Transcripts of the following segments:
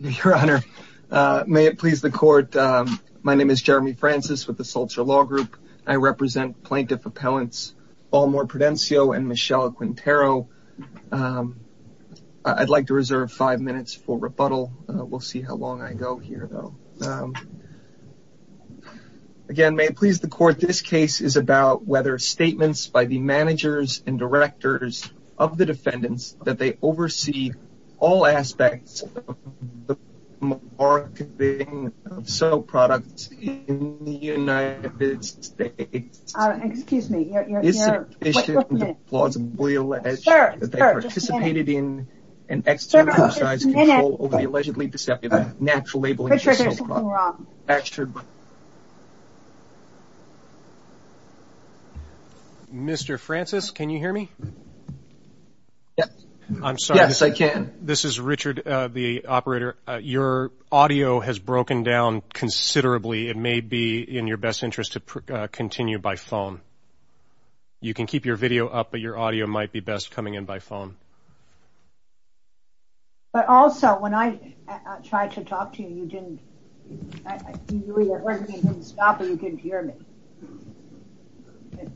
Your Honor, may it please the court. My name is Jeremy Francis with the Salter Law Group. I represent plaintiff appellants Balmore Prudencio and Michelle Quintero. I'd like to reserve five minutes for rebuttal. We'll see how long I go here though. Again, may it please the court, this case is about whether statements by the managers and directors of the defendants that they oversee all aspects of the marketing of soap products in the United States is sufficient to plausibly allege that they participated in an external Yes, I can. This is Richard, the operator. Your audio has broken down considerably. It may be in your best interest to continue by phone. You can keep your video up, but your audio might be best coming in by phone. But also, when I tried to talk to you, you didn't stop or you couldn't hear me.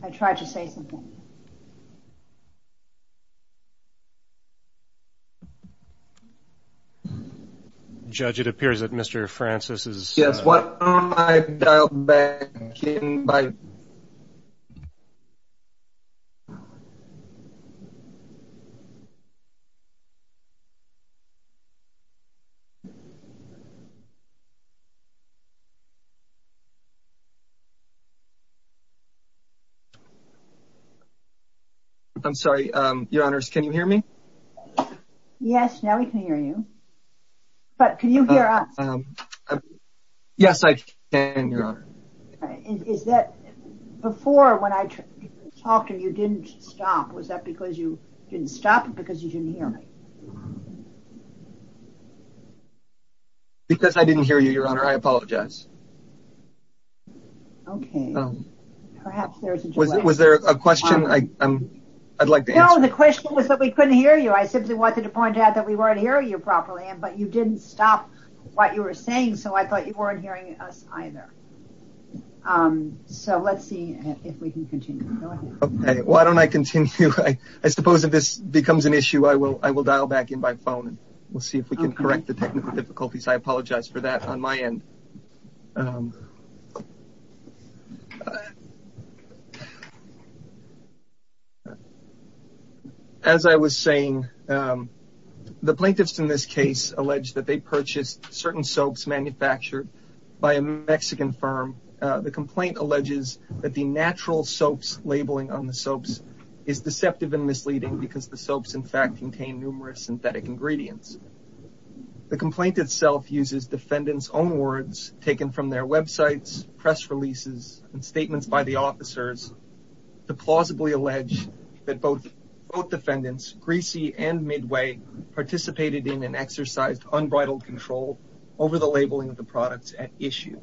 I tried to say something. Judge, it appears that Mr. Francis is... Yes, why don't I dial back in by... I'm sorry, Your Honors, can you hear me? Yes, now we can hear you. But can you hear us? Yes, I can, Your Honor. Before, when I talked to you, you didn't stop. Was that because you didn't stop or because you didn't hear me? Because I didn't hear you, Your Honor. I apologize. Was there a question I'd like to answer? No, the question was that we couldn't hear you. I simply wanted to point out that we weren't hearing you properly, but you didn't stop what you were saying, so I thought you weren't hearing us either. So, let's see if we can continue. Go ahead. Why don't I continue? I suppose if this becomes an issue, I will dial back in by phone. We'll see if we can correct the technical difficulties. I apologize for that on my end. As I was saying, the plaintiffs in this case allege that they purchased certain soaps manufactured by a Mexican firm. The complaint alleges that the natural soaps labeling on the soaps is deceptive and misleading because the soaps, in fact, contain numerous synthetic ingredients. The complaint itself uses defendants' own words taken from their websites, press releases, and statements by the officers to plausibly allege that both defendants, Greasy and Midway, participated in and exercised unbridled control over the labeling of the products at issue.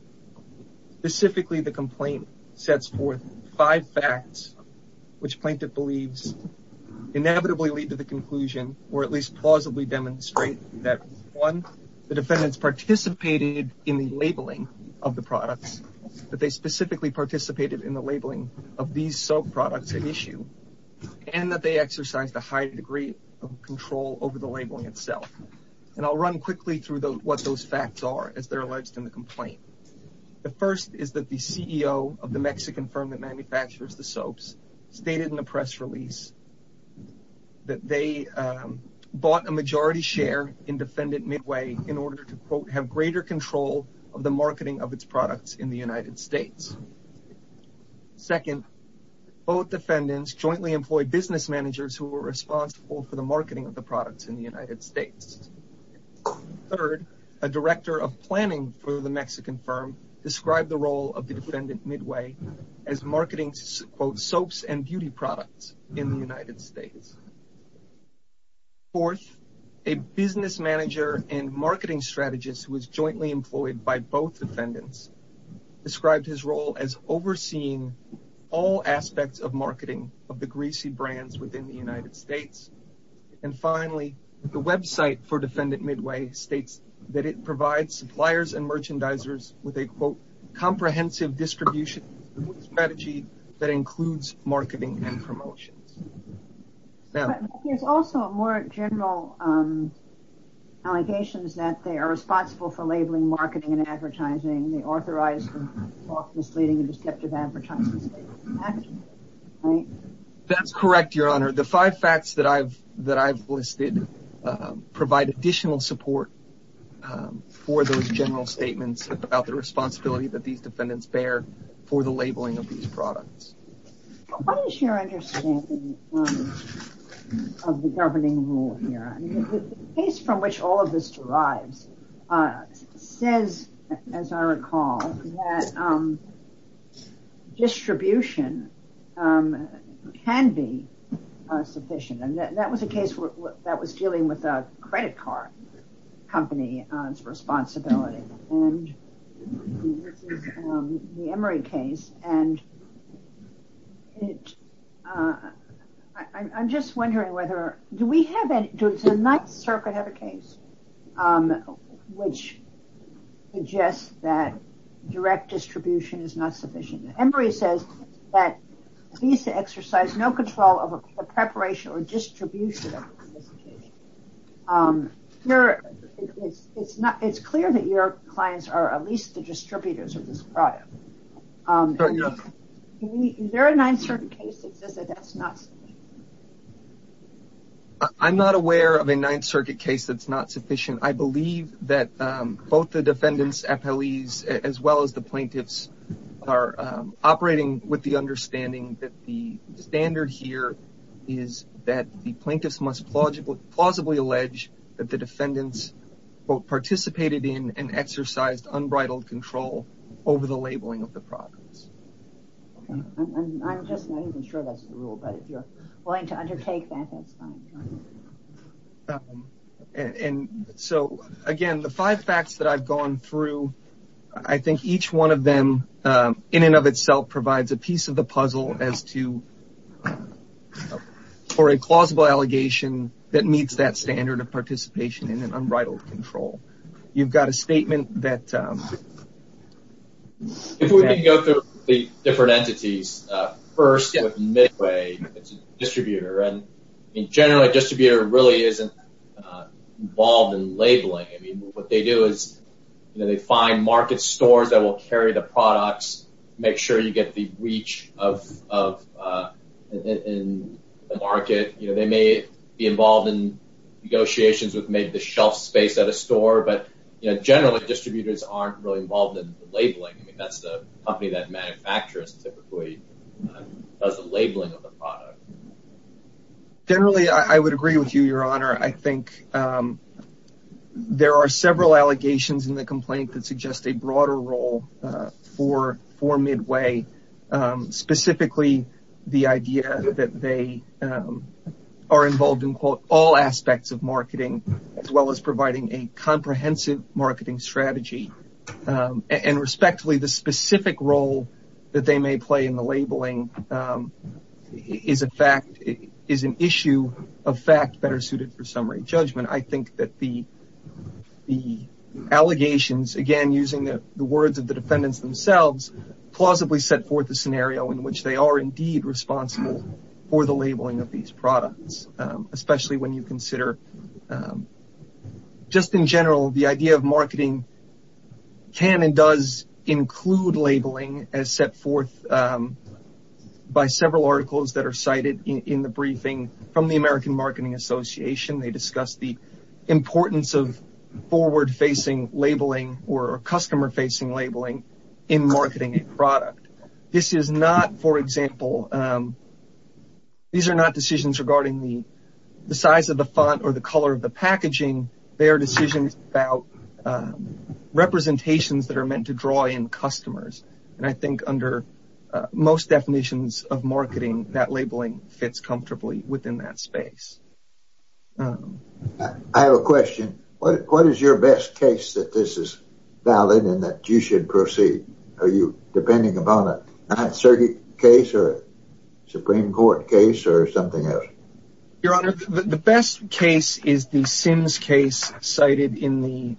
Specifically, the complaint sets forth five facts which plaintiff believes inevitably lead to the conclusion, or at least plausibly demonstrate, that one, the defendants participated in the labeling of the products, that they specifically participated in the labeling of these soap products at issue, and that they exercised a high degree of control over the labeling itself. I'll run quickly through what those facts are as they're alleged in the complaint. The first is that the CEO of the Mexican firm that manufactures the soaps stated in a press release that they bought a majority share in Defendant Midway in order to, quote, have greater control of the marketing of its products in the United States. Second, both defendants jointly employed business managers who were responsible for the marketing of the products in the United States. Third, a director of planning for the Mexican firm described the role of the Defendant Midway as marketing, quote, soaps and beauty products in the United States. Fourth, a business manager and marketing strategist who was jointly employed by both defendants described his role as overseeing all aspects of marketing of the greasy brands within the United States. And finally, the website for Defendant Midway states that it provides suppliers and merchandisers with a, quote, comprehensive distribution strategy that includes marketing and promotions. But there's also more general allegations that they are responsible for labeling, marketing, and advertising. They authorized the misleading and deceptive advertising statement. That's correct, Your Honor. The five facts that I've listed provide additional support for those general statements about the responsibility that these defendants bear for the labeling of these products. What is your understanding of the governing rule here? The case from which all of this derives says, as I recall, that distribution can be sufficient. And that was a case that was dealing with a credit card company's responsibility. And this is the Emory case. And I'm just wondering whether, do we have any, does the Ninth Circuit have a case which suggests that direct distribution is not sufficient? Emory says that Visa exercised no control over the preparation or distribution of this case. It's clear that your clients are at least the distributors of this product. Is there a Ninth Circuit case that says that that's not sufficient? I'm not aware of a Ninth Circuit case that's not sufficient. I believe that both the defendants, appellees, as well as the plaintiffs are operating with the understanding that the standard here is that the plaintiffs must plausibly allege that the defendants both participated in and exercised unbridled control over the labeling of the products. I'm just not even sure that's the rule, but if you're willing to undertake that, that's fine. And so, again, the five facts that I've gone through, I think each one of them in and of itself provides a piece of the puzzle as to, for a plausible allegation that meets that standard of participation in an unbridled control. You've got a statement that. If we can go through the different entities. First, Midway distributor and generally distributor really isn't involved in labeling. I mean, what they do is they find market stores that will carry the products, make sure you get the reach of the market. You know, they may be involved in negotiations with maybe the shelf space at a store, but generally distributors aren't really involved in labeling. I mean, that's the company that manufacturers typically does the labeling of the product. Generally, I would agree with you, Your Honor. I think there are several allegations in the complaint that suggest a broader role for Midway, specifically the idea that they are involved in all aspects of marketing, as well as providing a comprehensive marketing strategy. And respectively, the specific role that they may play in the labeling is an issue of fact that are suited for summary judgment. I think that the allegations, again, using the words of the defendants themselves, plausibly set forth a scenario in which they are indeed responsible for the labeling of these products. Especially when you consider just in general, the idea of marketing can and does include labeling as set forth by several articles that are cited in the briefing from the American Marketing Association. They discussed the importance of forward-facing labeling or customer-facing labeling in marketing a product. This is not, for example, these are not decisions regarding the size of the font or the color of the packaging. They are decisions about representations that are meant to draw in customers. And I think under most definitions of marketing, that labeling fits comfortably within that space. I have a question. What is your best case that this is valid and that you should proceed? Are you depending upon a case or Supreme Court case or something else? Your Honor, the best case is the Sims case cited in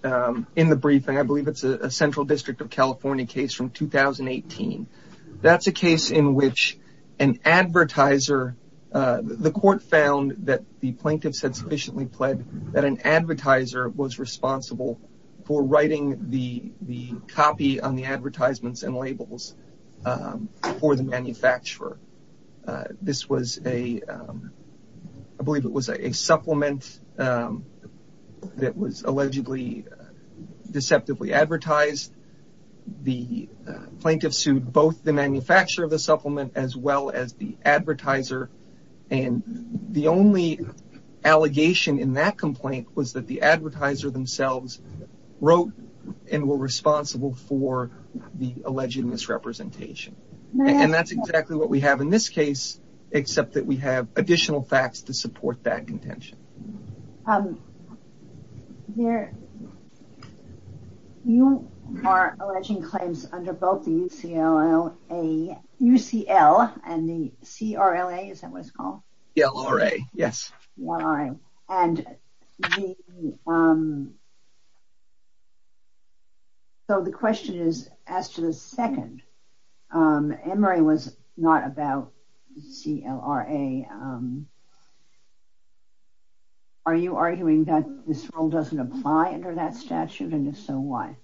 the briefing. I believe it's a Central District of California case from 2018. That's a case in which an advertiser, the court found that the plaintiffs had sufficiently pled that an advertiser was responsible for writing the copy on the advertisements and labels for the manufacturer. This was a, I believe it was a supplement that was allegedly deceptively advertised. The plaintiffs sued both the manufacturer of the supplement as well as the advertiser. And the only allegation in that complaint was that the advertiser themselves wrote and were responsible for the alleged misrepresentation. And that's exactly what we have in this case, except that we have additional facts to support that contention. Your Honor, you are alleging claims under both the UCL and the CRLA, is that what it's called? CRLA, yes. So the question is, as to the second, Emory was not about CLRA. Are you arguing that this rule doesn't apply under that statute, and if so, why?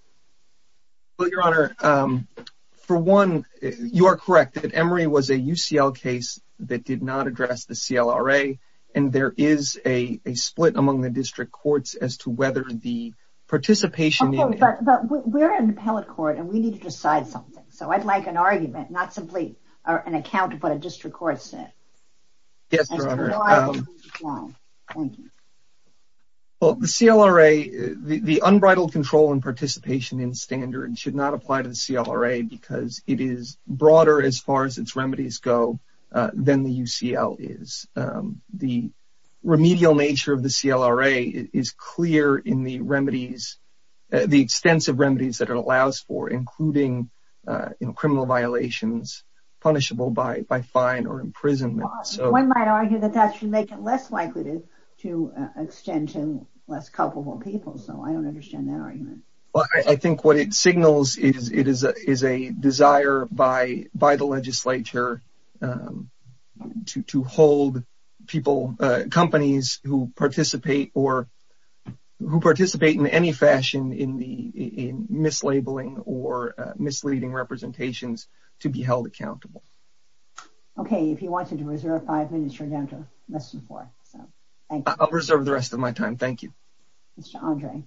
Well, Your Honor, for one, you are correct that Emory was a UCL case that did not address the CLRA. And there is a split among the district courts as to whether the participation… But we're an appellate court, and we need to decide something. So I'd like an argument, not simply an account of what a district court said. Yes, Your Honor. Thank you. Well, the CLRA, the unbridled control and participation in standards should not apply to the CLRA, because it is broader as far as its remedies go than the UCL is. The remedial nature of the CLRA is clear in the remedies, the extensive remedies that it allows for, including criminal violations punishable by fine or imprisonment. One might argue that that should make it less likely to extend to less culpable people, so I don't understand that argument. Well, I think what it signals is a desire by the legislature to hold people, companies, who participate in any fashion in mislabeling or misleading representations to be held accountable. Okay, if you wanted to reserve five minutes, you're down to less than four, so thank you. I'll reserve the rest of my time. Thank you. Mr. Andre.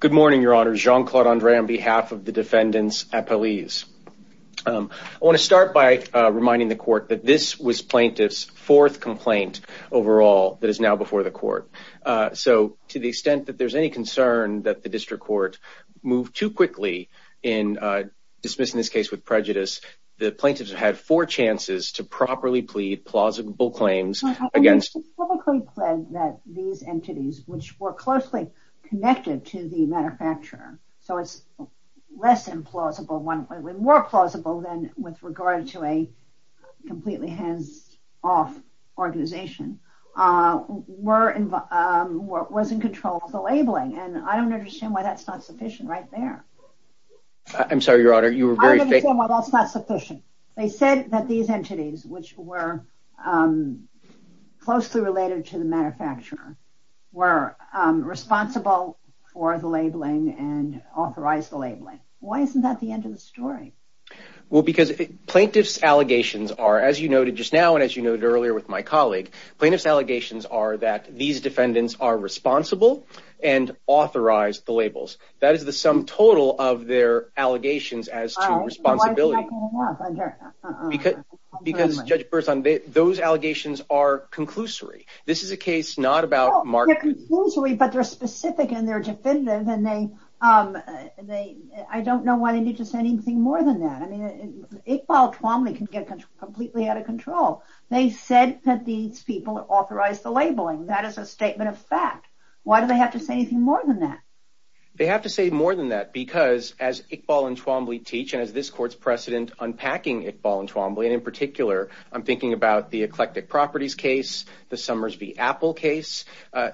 Good morning, Your Honor. Jean-Claude Andre on behalf of the defendants' appellees. I want to start by reminding the Court that this was plaintiffs' fourth complaint overall that is now before the Court. To the extent that there's any concern that the District Court moved too quickly in dismissing this case with prejudice, the plaintiffs had four chances to properly plead plausible claims against... They publicly pled that these entities, which were closely connected to the manufacturer, so it's less implausible one way, more plausible than with regard to a completely hands-off organization, was in control of the labeling, and I don't understand why that's not sufficient right there. I'm sorry, Your Honor, you were very... I don't understand why that's not sufficient. They said that these entities, which were closely related to the manufacturer, were responsible for the labeling and authorized the labeling. Why isn't that the end of the story? Well, because plaintiffs' allegations are, as you noted just now and as you noted earlier with my colleague, plaintiffs' allegations are that these defendants are responsible and authorized the labels. That is the sum total of their allegations as to responsibility. Why is that not enough? Because, Judge Burson, those allegations are conclusory. This is a case not about marketing. They're conclusory, but they're specific and they're definitive, and I don't know why they need to say anything more than that. Iqbal Twamely can get completely out of control. They said that these people authorized the labeling. That is a statement of fact. Why do they have to say anything more than that? They have to say more than that because, as Iqbal and Twamely teach, and as this Court's precedent unpacking Iqbal and Twamely, and in particular, I'm thinking about the Eclectic Properties case, the Summers v. Apple case,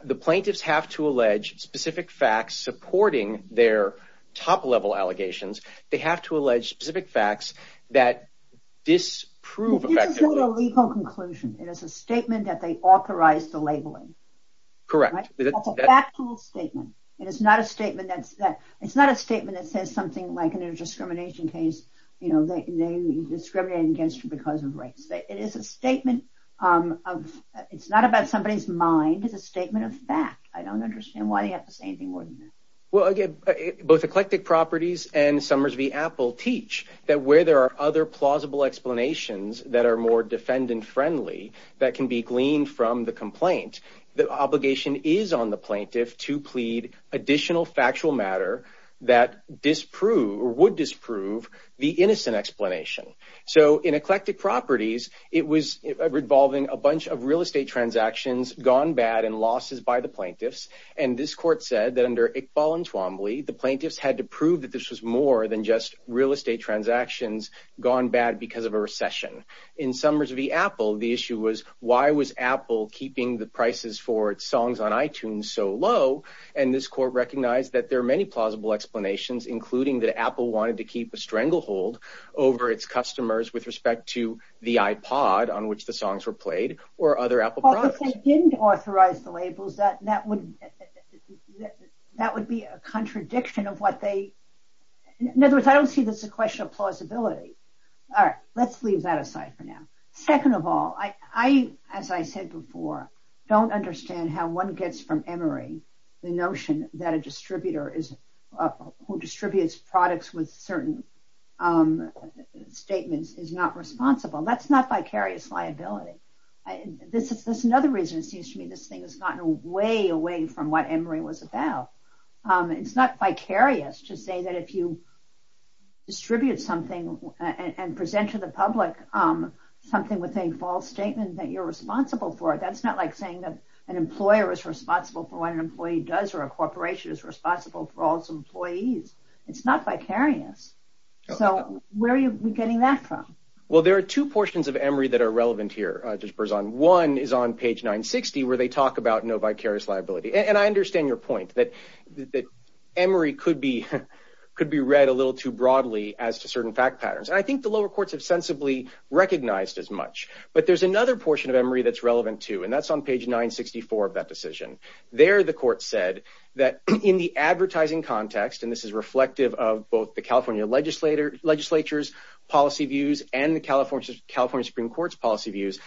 the plaintiffs have to allege specific facts supporting their top-level allegations. They have to allege specific facts that disprove effectively. This is not a legal conclusion. It is a statement that they authorized the labeling. Correct. That's a factual statement. It's not a statement that says something like, in a discrimination case, they discriminated against you because of race. It is a statement of – it's not about somebody's mind. It's a statement of fact. I don't understand why they have to say anything more than that. Well, again, both Eclectic Properties and Summers v. Apple teach that where there are other plausible explanations that are more defendant-friendly that can be gleaned from the complaint, the obligation is on the plaintiff to plead additional factual matter that disprove or would disprove the innocent explanation. So in Eclectic Properties, it was involving a bunch of real estate transactions gone bad and losses by the plaintiffs, and this court said that under Iqbal and Twombly, the plaintiffs had to prove that this was more than just real estate transactions gone bad because of a recession. In Summers v. Apple, the issue was why was Apple keeping the prices for its songs on iTunes so low, and this court recognized that there are many plausible explanations, including that Apple wanted to keep a stranglehold over its customers with respect to the iPod on which the songs were played or other Apple products. If they didn't authorize the labels, that would be a contradiction of what they... In other words, I don't see this as a question of plausibility. All right, let's leave that aside for now. Second of all, I, as I said before, don't understand how one gets from Emory the notion that a distributor who distributes products with certain statements is not responsible. That's not vicarious liability. That's another reason it seems to me this thing has gotten way away from what Emory was about. It's not vicarious to say that if you distribute something and present to the public something with a false statement that you're responsible for, that's not like saying that an employer is responsible for what an employee does or a corporation is responsible for all its employees. It's not vicarious. So where are you getting that from? Well, there are two portions of Emory that are relevant here, Judge Berzon. One is on page 960 where they talk about no vicarious liability. And I understand your point that Emory could be read a little too broadly as to certain fact patterns. And I think the lower courts have sensibly recognized as much. But there's another portion of Emory that's relevant too, and that's on page 964 of that decision. There the court said that in the advertising context, and this is reflective of both the California legislature's policy views and the California Supreme Court's policy views,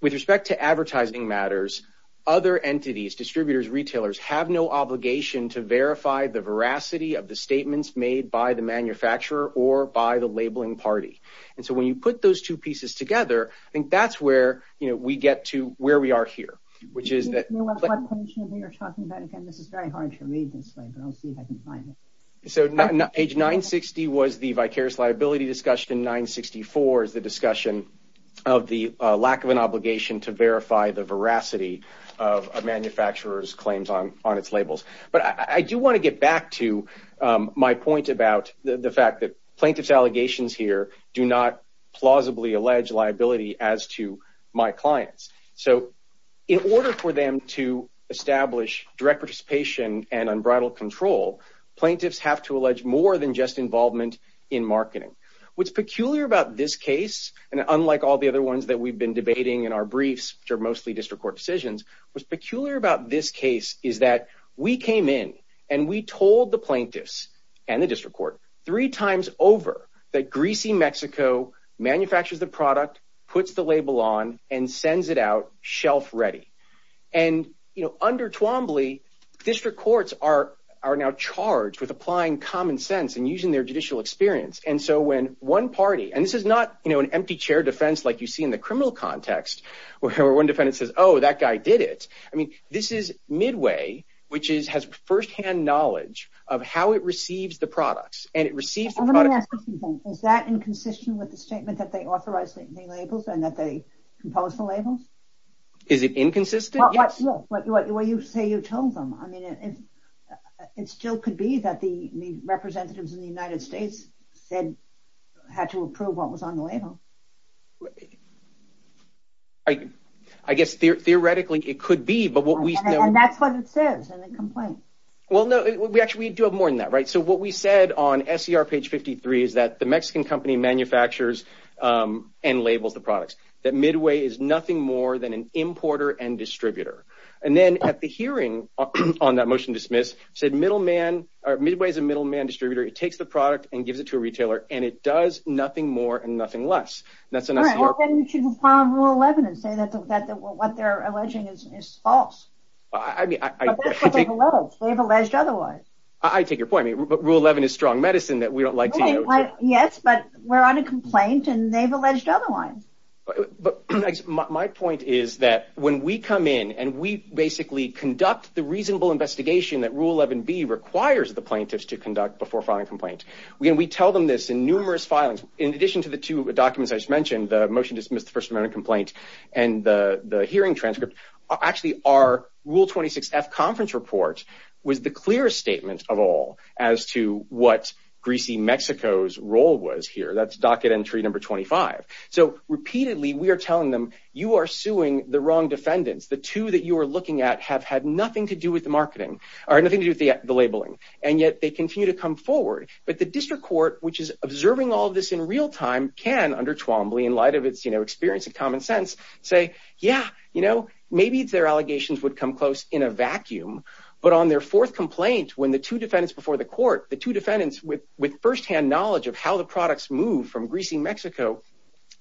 with respect to advertising matters, other entities, distributors, retailers, have no obligation to verify the veracity of the statements made by the manufacturer or by the labeling party. And so when you put those two pieces together, I think that's where we get to where we are here. What portion are they talking about? Again, this is very hard to read this way, but I'll see if I can find it. So page 960 was the vicarious liability discussion. 964 is the discussion of the lack of an obligation to verify the veracity of a manufacturer's claims on its labels. But I do want to get back to my point about the fact that plaintiff's allegations here do not plausibly allege liability as to my clients. So in order for them to establish direct participation and unbridled control, plaintiffs have to allege more than just involvement in marketing. What's peculiar about this case, and unlike all the other ones that we've been debating in our briefs, which are mostly district court decisions, what's peculiar about this case is that we came in and we told the plaintiffs and the district court three times over that Greasy Mexico manufactures the product, puts the label on, and sends it out shelf ready. And under Twombly, district courts are now charged with applying common sense and using their judicial experience. And so when one party – and this is not an empty chair defense like you see in the criminal context where one defendant says, oh, that guy did it. I mean, this is Midway, which has firsthand knowledge of how it receives the products, and it receives the product. Is that inconsistent with the statement that they authorized the labels and that they composed the labels? Is it inconsistent? Yes. Well, you say you told them. I mean, it still could be that the representatives in the United States had to approve what was on the label. I guess theoretically it could be, but what we know – And that's what it says in the complaint. Well, no, we actually do have more than that, right? So what we said on SCR page 53 is that the Mexican company manufactures and labels the products, that Midway is nothing more than an importer and distributor. And then at the hearing on that motion to dismiss, said Midway is a middleman distributor. It takes the product and gives it to a retailer, and it does nothing more and nothing less. All right. Well, then you should file Rule 11 and say that what they're alleging is false. But that's what they've alleged. They've alleged otherwise. I take your point. But Rule 11 is strong medicine that we don't like to use. Yes, but we're on a complaint, and they've alleged otherwise. But my point is that when we come in and we basically conduct the reasonable investigation that Rule 11B requires the plaintiffs to conduct before filing a complaint, we tell them this in numerous filings. In addition to the two documents I just mentioned, the motion to dismiss the first amendment complaint and the hearing transcript, actually our Rule 26F conference report was the clearest statement of all as to what greasy Mexico's role was here. That's docket entry number 25. So repeatedly we are telling them, you are suing the wrong defendants. The two that you are looking at have had nothing to do with the marketing or nothing to do with the labeling. And yet they continue to come forward. But the district court, which is observing all this in real time, can under Twombly in light of its experience of common sense say, yeah, you know, maybe their allegations would come close in a vacuum, but on their fourth complaint when the two defendants before the court, the two defendants with firsthand knowledge of how the products move from greasy Mexico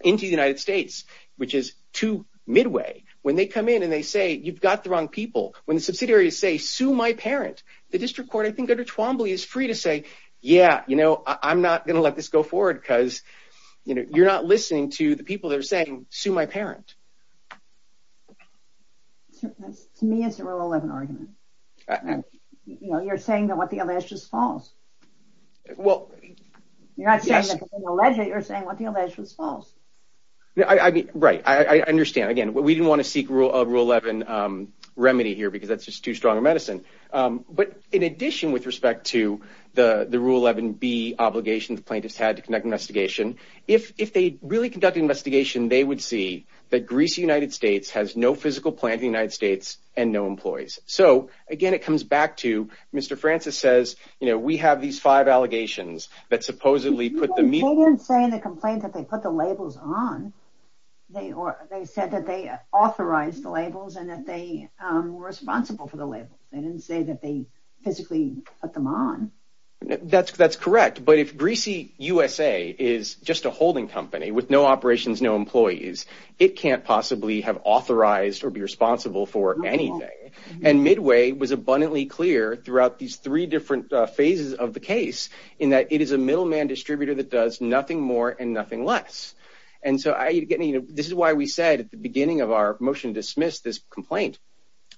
into the United States, which is too midway, when they come in and they say, you've got the wrong people, when the subsidiaries say, sue my parent, the district court I think under Twombly is free to say, yeah, you know, I'm not going to let this go forward because, you know, you're not listening to the people that are saying, sue my parent. To me, it's a rule 11 argument. You know, you're saying that what the alleged is false. Well, you're not saying that the alleged, you're saying what the alleged was false. I mean, right. I understand. Again, we didn't want to seek rule of rule 11 remedy here because that's just too strong a medicine. But in addition, with respect to the rule 11 B obligation the plaintiffs had to conduct investigation, if they really conducted investigation, they would see that greasy United States has no physical plant in the United States and no employees. So, again, it comes back to Mr. Francis says, you know, we have these five allegations that supposedly put the media. They didn't say in the complaint that they put the labels on. They said that they authorized the labels and that they were responsible for the labels. They didn't say that they physically put them on. That's correct. But if greasy USA is just a holding company with no operations, no employees, it can't possibly have authorized or be responsible for anything. And midway was abundantly clear throughout these three different phases of the case in that it is a middleman distributor that does nothing more and nothing less. And so I, you know, this is why we said at the beginning of our motion to dismiss this complaint,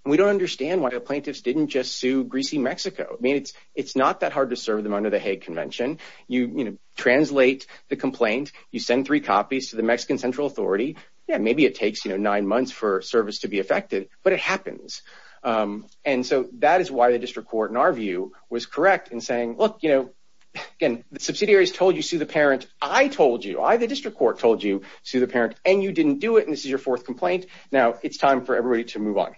we don't understand why the plaintiffs didn't just sue greasy Mexico. I mean, it's, it's not that hard to serve them under the Hague convention. You translate the complaint, you send three copies to the Mexican central authority. Yeah. Maybe it takes, you know, nine months for service to be affected, but it happens. And so that is why the district court in our view was correct in saying, look, you know, again, the subsidiaries told you sue the parent. I told you I, the district court told you sue the parent and you didn't do it. And this is your fourth complaint. Now it's time for everybody to move on.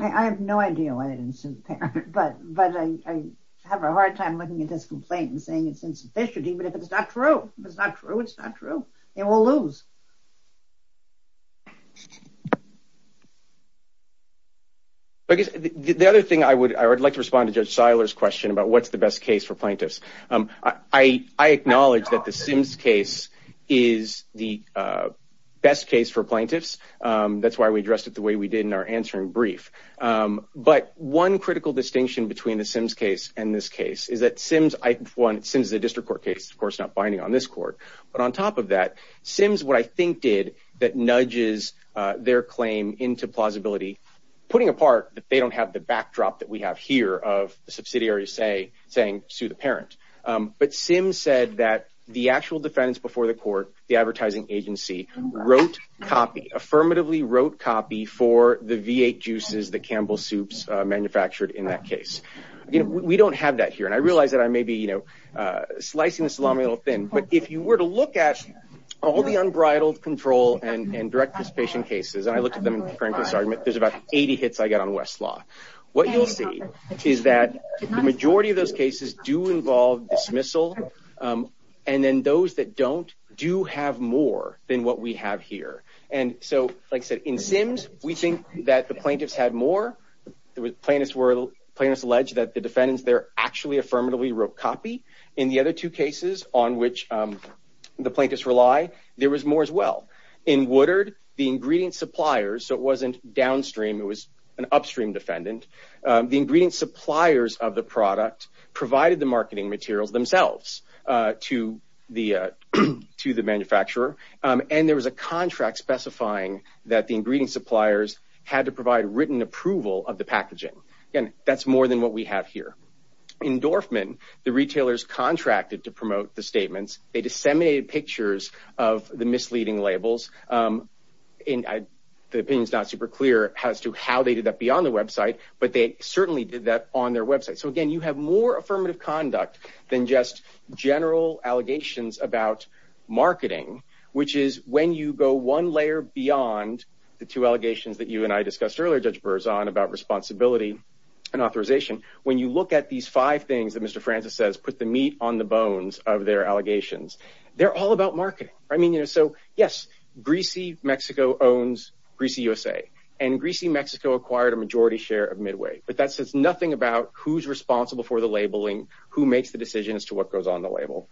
I have no idea why they didn't sue the parent, but, but I have a hard time looking at this complaint and saying it's insufficient, even if it's not true, it's not true. It's not true. They will lose. I guess the other thing I would, I would like to respond to judge Siler's question about what's the best case for plaintiffs. I, I acknowledge that the Sims case is the best case for plaintiffs. That's why we addressed it the way we did in our answering brief. But one critical distinction between the Sims case and this case is that Sims, I, one, it seems the district court case, of course, not binding on this court, but on top of that, Sims what I think did that nudges their claim into plausibility, putting apart that they don't have the backdrop that we have here of the subsidiary say, saying, sue the parent. But Sims said that the actual defense before the court, the advertising agency wrote copy affirmatively wrote copy for the V8 juices, the Campbell soups manufactured in that case. You know, we don't have that here. And I realized that I may be, you know slicing the salami a little thin, but if you were to look at all the unbridled control and, and direct dissipation cases, and I looked at them, frankly, there's about 80 hits I got on Westlaw. What you'll see is that the majority of those cases do involve dismissal. And then those that don't do have more than what we have here. And so like I said, in Sims, we think that the plaintiffs had more. There was plaintiffs were plaintiffs alleged that the defendants there actually affirmatively wrote copy in the other two cases on which the plaintiffs rely. There was more as well in Woodard, the ingredient suppliers. So it wasn't downstream. It was an upstream defendant. The ingredient suppliers of the product provided the marketing materials themselves to the, to the manufacturer. And there was a contract specifying that the ingredient suppliers had to provide written approval of the packaging. And that's more than what we have here in Dorfman. The retailers contracted to promote the statements. They disseminated pictures of the misleading labels in the opinions, not super clear as to how they did that beyond the website, but they certainly did that on their website. So again, you have more affirmative conduct than just general allegations about marketing, which is when you go one layer beyond the two allegations that you and I discussed earlier, judge Burzon about responsibility and authorization. When you look at these five things that Mr. Francis says, put the meat on the bones of their allegations. They're all about marketing. I mean, you know, so yes, greasy Mexico owns greasy USA and greasy Mexico acquired a majority share of Midway, but that says nothing about who's responsible for the labeling, who makes the decision as to what goes on the label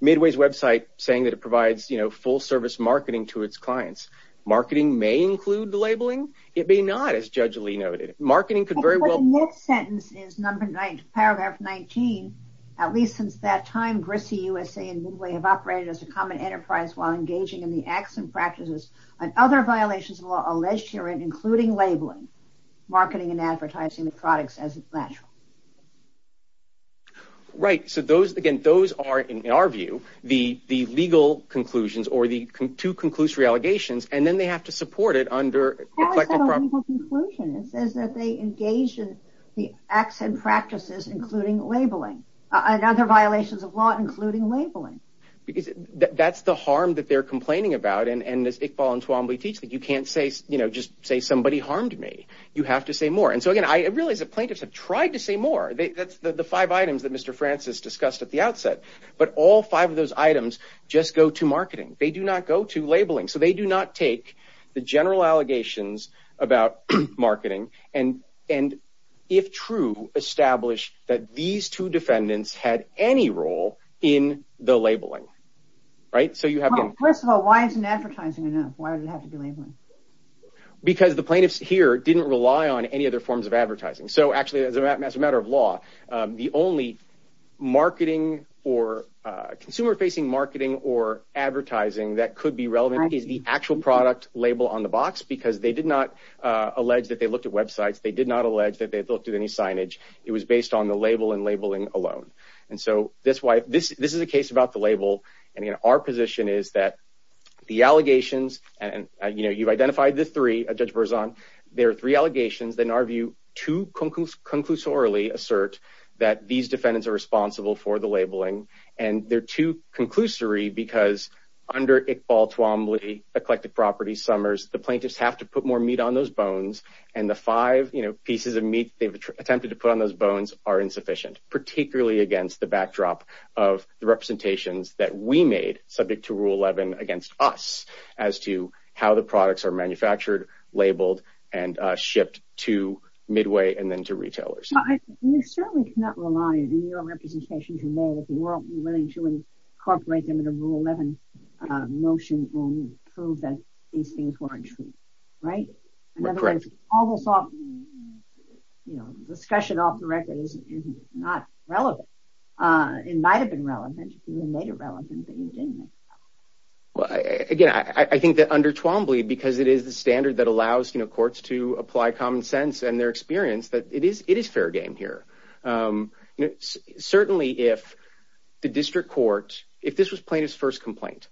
Midway's website saying that it provides, you know, full service marketing to its clients. Marketing may include the labeling. It may not as judge Lee noted. Marketing could very well sentence is number nine, paragraph 19. At least since that time, grissy USA and Midway have operated as a common enterprise while engaging in the acts and practices and other violations of law alleged here, including labeling marketing and advertising the products as natural. Right. So those, again, those are, in our view, the, the legal conclusions or the two conclusory allegations, and then they have to support it under the collective conclusion. It says that they engaged in the acts and practices, including labeling and other violations of law, including labeling. That's the harm that they're complaining about. And as Iqbal and Twombly teach that you can't say, you know, just say somebody harmed me. You have to say more. And so again, I realize that plaintiffs have tried to say more. That's the five items that Mr. Francis discussed at the outset, but all five of those items just go to marketing. They do not go to labeling. So they do not take the general allegations about marketing. And, and if true, establish that these two defendants had any role in the labeling, right? First of all, why isn't advertising enough? Why would it have to be labeling? Because the plaintiffs here didn't rely on any other forms of advertising. So actually as a matter of law, the only marketing or consumer facing marketing or advertising that could be relevant is the actual product label on the box, because they did not allege that they looked at websites. They did not allege that they looked at any signage. It was based on the label and labeling alone. And so this is a case about the label. And again, our position is that the allegations and, you know, you've identified the three, Judge Berzon, there are three allegations that in our view too conclusorily assert that these defendants are responsible for the labeling. And they're too conclusory because under Iqbal, Twombly, eclectic properties, Summers, the plaintiffs have to put more meat on those bones and the five pieces of meat they've attempted to put on those bones are insufficient, particularly against the backdrop of the representations that we made subject to Rule 11 against us as to how the products are manufactured, labeled, and shipped to Midway and then to retailers. I mean, you certainly cannot rely on your representation to know that the world will be willing to incorporate them into Rule 11 motion to prove that these things weren't true. Right? Correct. It's almost off, you know, discussion off the record is not relevant. It might've been relevant. You made it relevant, but you didn't. Well, again, I think that under Twombly because it is the standard that allows, you know, courts to apply common sense and their experience that it is, it is fair game here. Certainly if the district court, if this was plaintiff's first complaint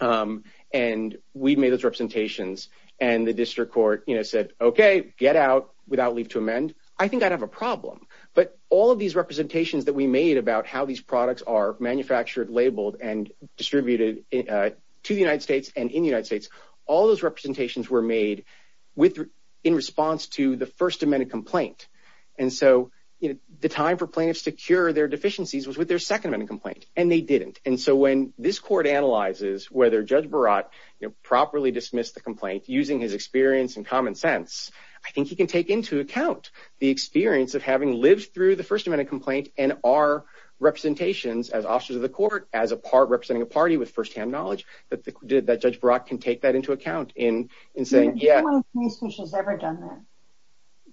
and we'd made those representations and the district court, you know, said, okay, get out without leave to amend. I think I'd have a problem, but all of these representations that we made about how these products are manufactured, labeled and distributed to the United States and in the United States, all those representations were made with, in response to the first amendment complaint. And so, you know, the time for plaintiffs to cure their deficiencies was with their second amendment complaint and they didn't. And so when this court analyzes, whether judge Barat properly dismissed the complaint using his experience in common sense, I think he can take into account the experience of having lived through the first amendment complaint and our representations as officers of the court, as a part representing a party with firsthand knowledge that did that judge Brock can take that into account in, in saying, yeah.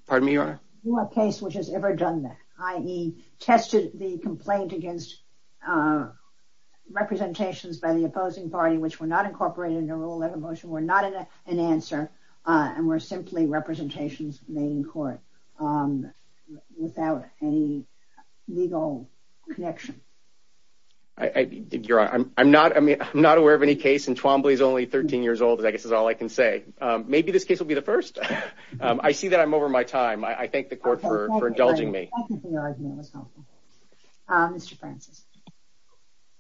Pardon me, your case, which has ever done that. I tested the complaint against representations by the opposing parties. Which were not incorporated into rule 11 motion. We're not in a, an answer. And we're simply representations made in court without any legal connection. I did your I'm, I'm not, I mean, I'm not aware of any case. And Twombly is only 13 years old, I guess is all I can say. Maybe this case will be the first. I see that I'm over my time. I thank the court for indulging me. Mr. Francis.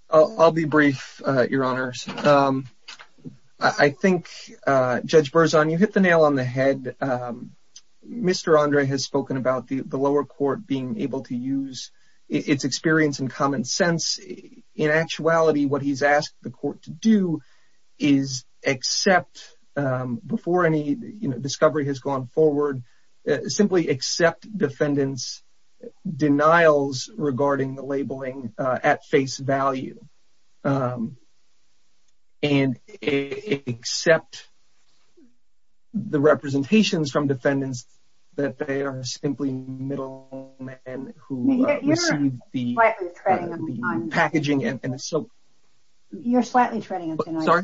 I'll be brief. Your honors. I think judge Burzon, you hit the nail on the head. Mr. Andre has spoken about the, the lower court being able to use its experience in common sense. In actuality, what he's asked the court to do is accept before any discovery has gone forward, simply accept defendants' denials regarding the labeling at face value. And accept the representations from defendants, that they are simply middle men who receive the packaging. You're slightly treading on thin ice. Sorry?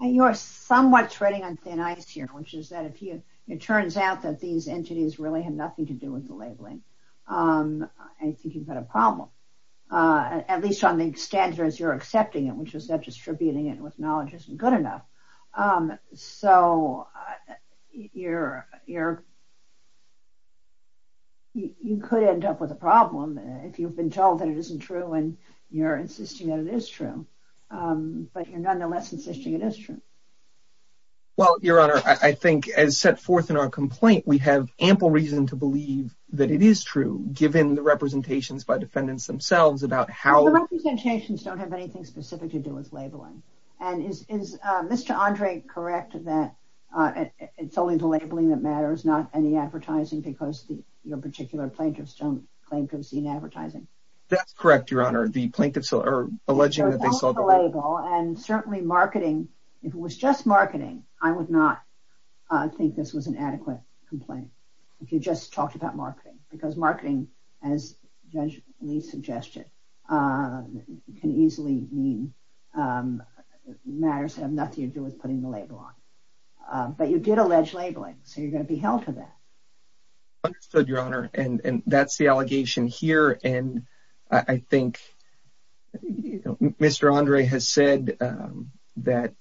You're somewhat treading on thin ice here. Which is that if you, it turns out that these entities really have nothing to do with the labeling. I think you've got a problem. At least on the standards you're accepting it, which is that distributing it with knowledge isn't good enough. So you're, you're. You could end up with a problem if you've been told that it isn't true and you're insisting that it is true, but you're nonetheless insisting it is true. Well, Your Honor, I think as set forth in our complaint, we have ample reason to believe that it is true, given the representations by defendants themselves about how. The representations don't have anything specific to do with labeling. And is, is Mr. Andre correct that it's only the labeling that matters, not any advertising because your particular plaintiffs don't claim to have seen advertising. That's correct, Your Honor. The plaintiffs are alleging that they saw the label. And certainly marketing, if it was just marketing, I would not think this was an adequate complaint. If you just talked about marketing because marketing as judge Lee suggested can easily mean matters have nothing to do with putting the label on, but you did allege labeling. So you're going to be held to that. Understood, Your Honor. And that's the allegation here. And I think Mr. Andre has said that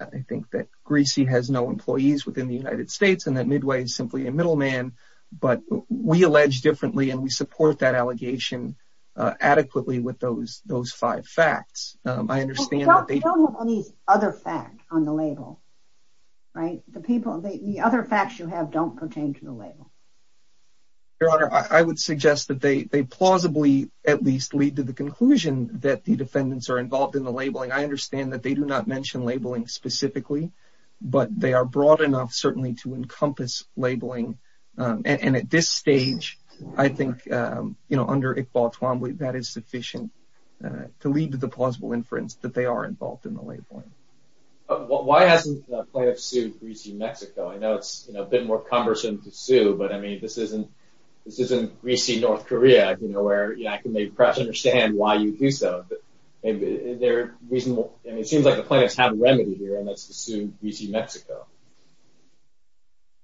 I think that greasy has no employees within the United States and that Midway is simply a middle man, but we allege differently and we support that allegation adequately with those, those five facts. I understand. These other facts on the label, right? The people, the other facts you have don't pertain to the label. Your Honor, I would suggest that they, they plausibly at least lead to the conclusion that the defendants are involved in the labeling. I understand that they do not mention labeling specifically, but they are broad enough certainly to encompass labeling. And at this stage, I think, you know, under Iqbal, that is sufficient to lead to the plausible inference that they are involved in the labeling. Why hasn't the plaintiff sued greasy Mexico? I know it's a bit more cumbersome to sue, but I mean, this isn't, this isn't greasy North Korea, you know, where, you know, I can maybe perhaps understand why you do so, but they're reasonable. And it seems like the plaintiffs have a remedy here and let's assume greasy Mexico.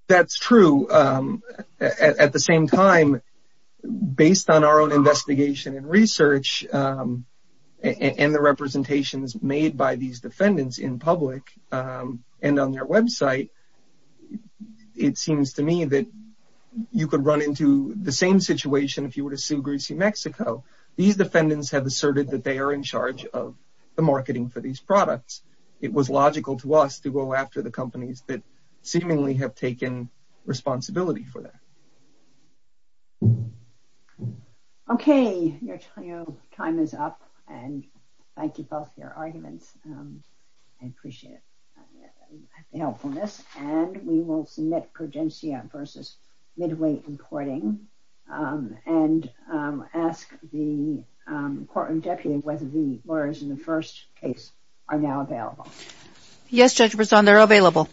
That's true. At the same time, based on our own investigation and research and the representations made by these defendants in public and on their website, it seems to me that you could run into the same situation. If you were to sue greasy Mexico, these defendants have asserted that they are in charge of the marketing for these products. It was logical to us to go after the companies that seemingly have taken responsibility for that. I appreciate the helpfulness and we will submit Progencia versus Midway importing and ask the court and deputy whether the lawyers in the first case are now available. Yes, Judge Brisson, they're available.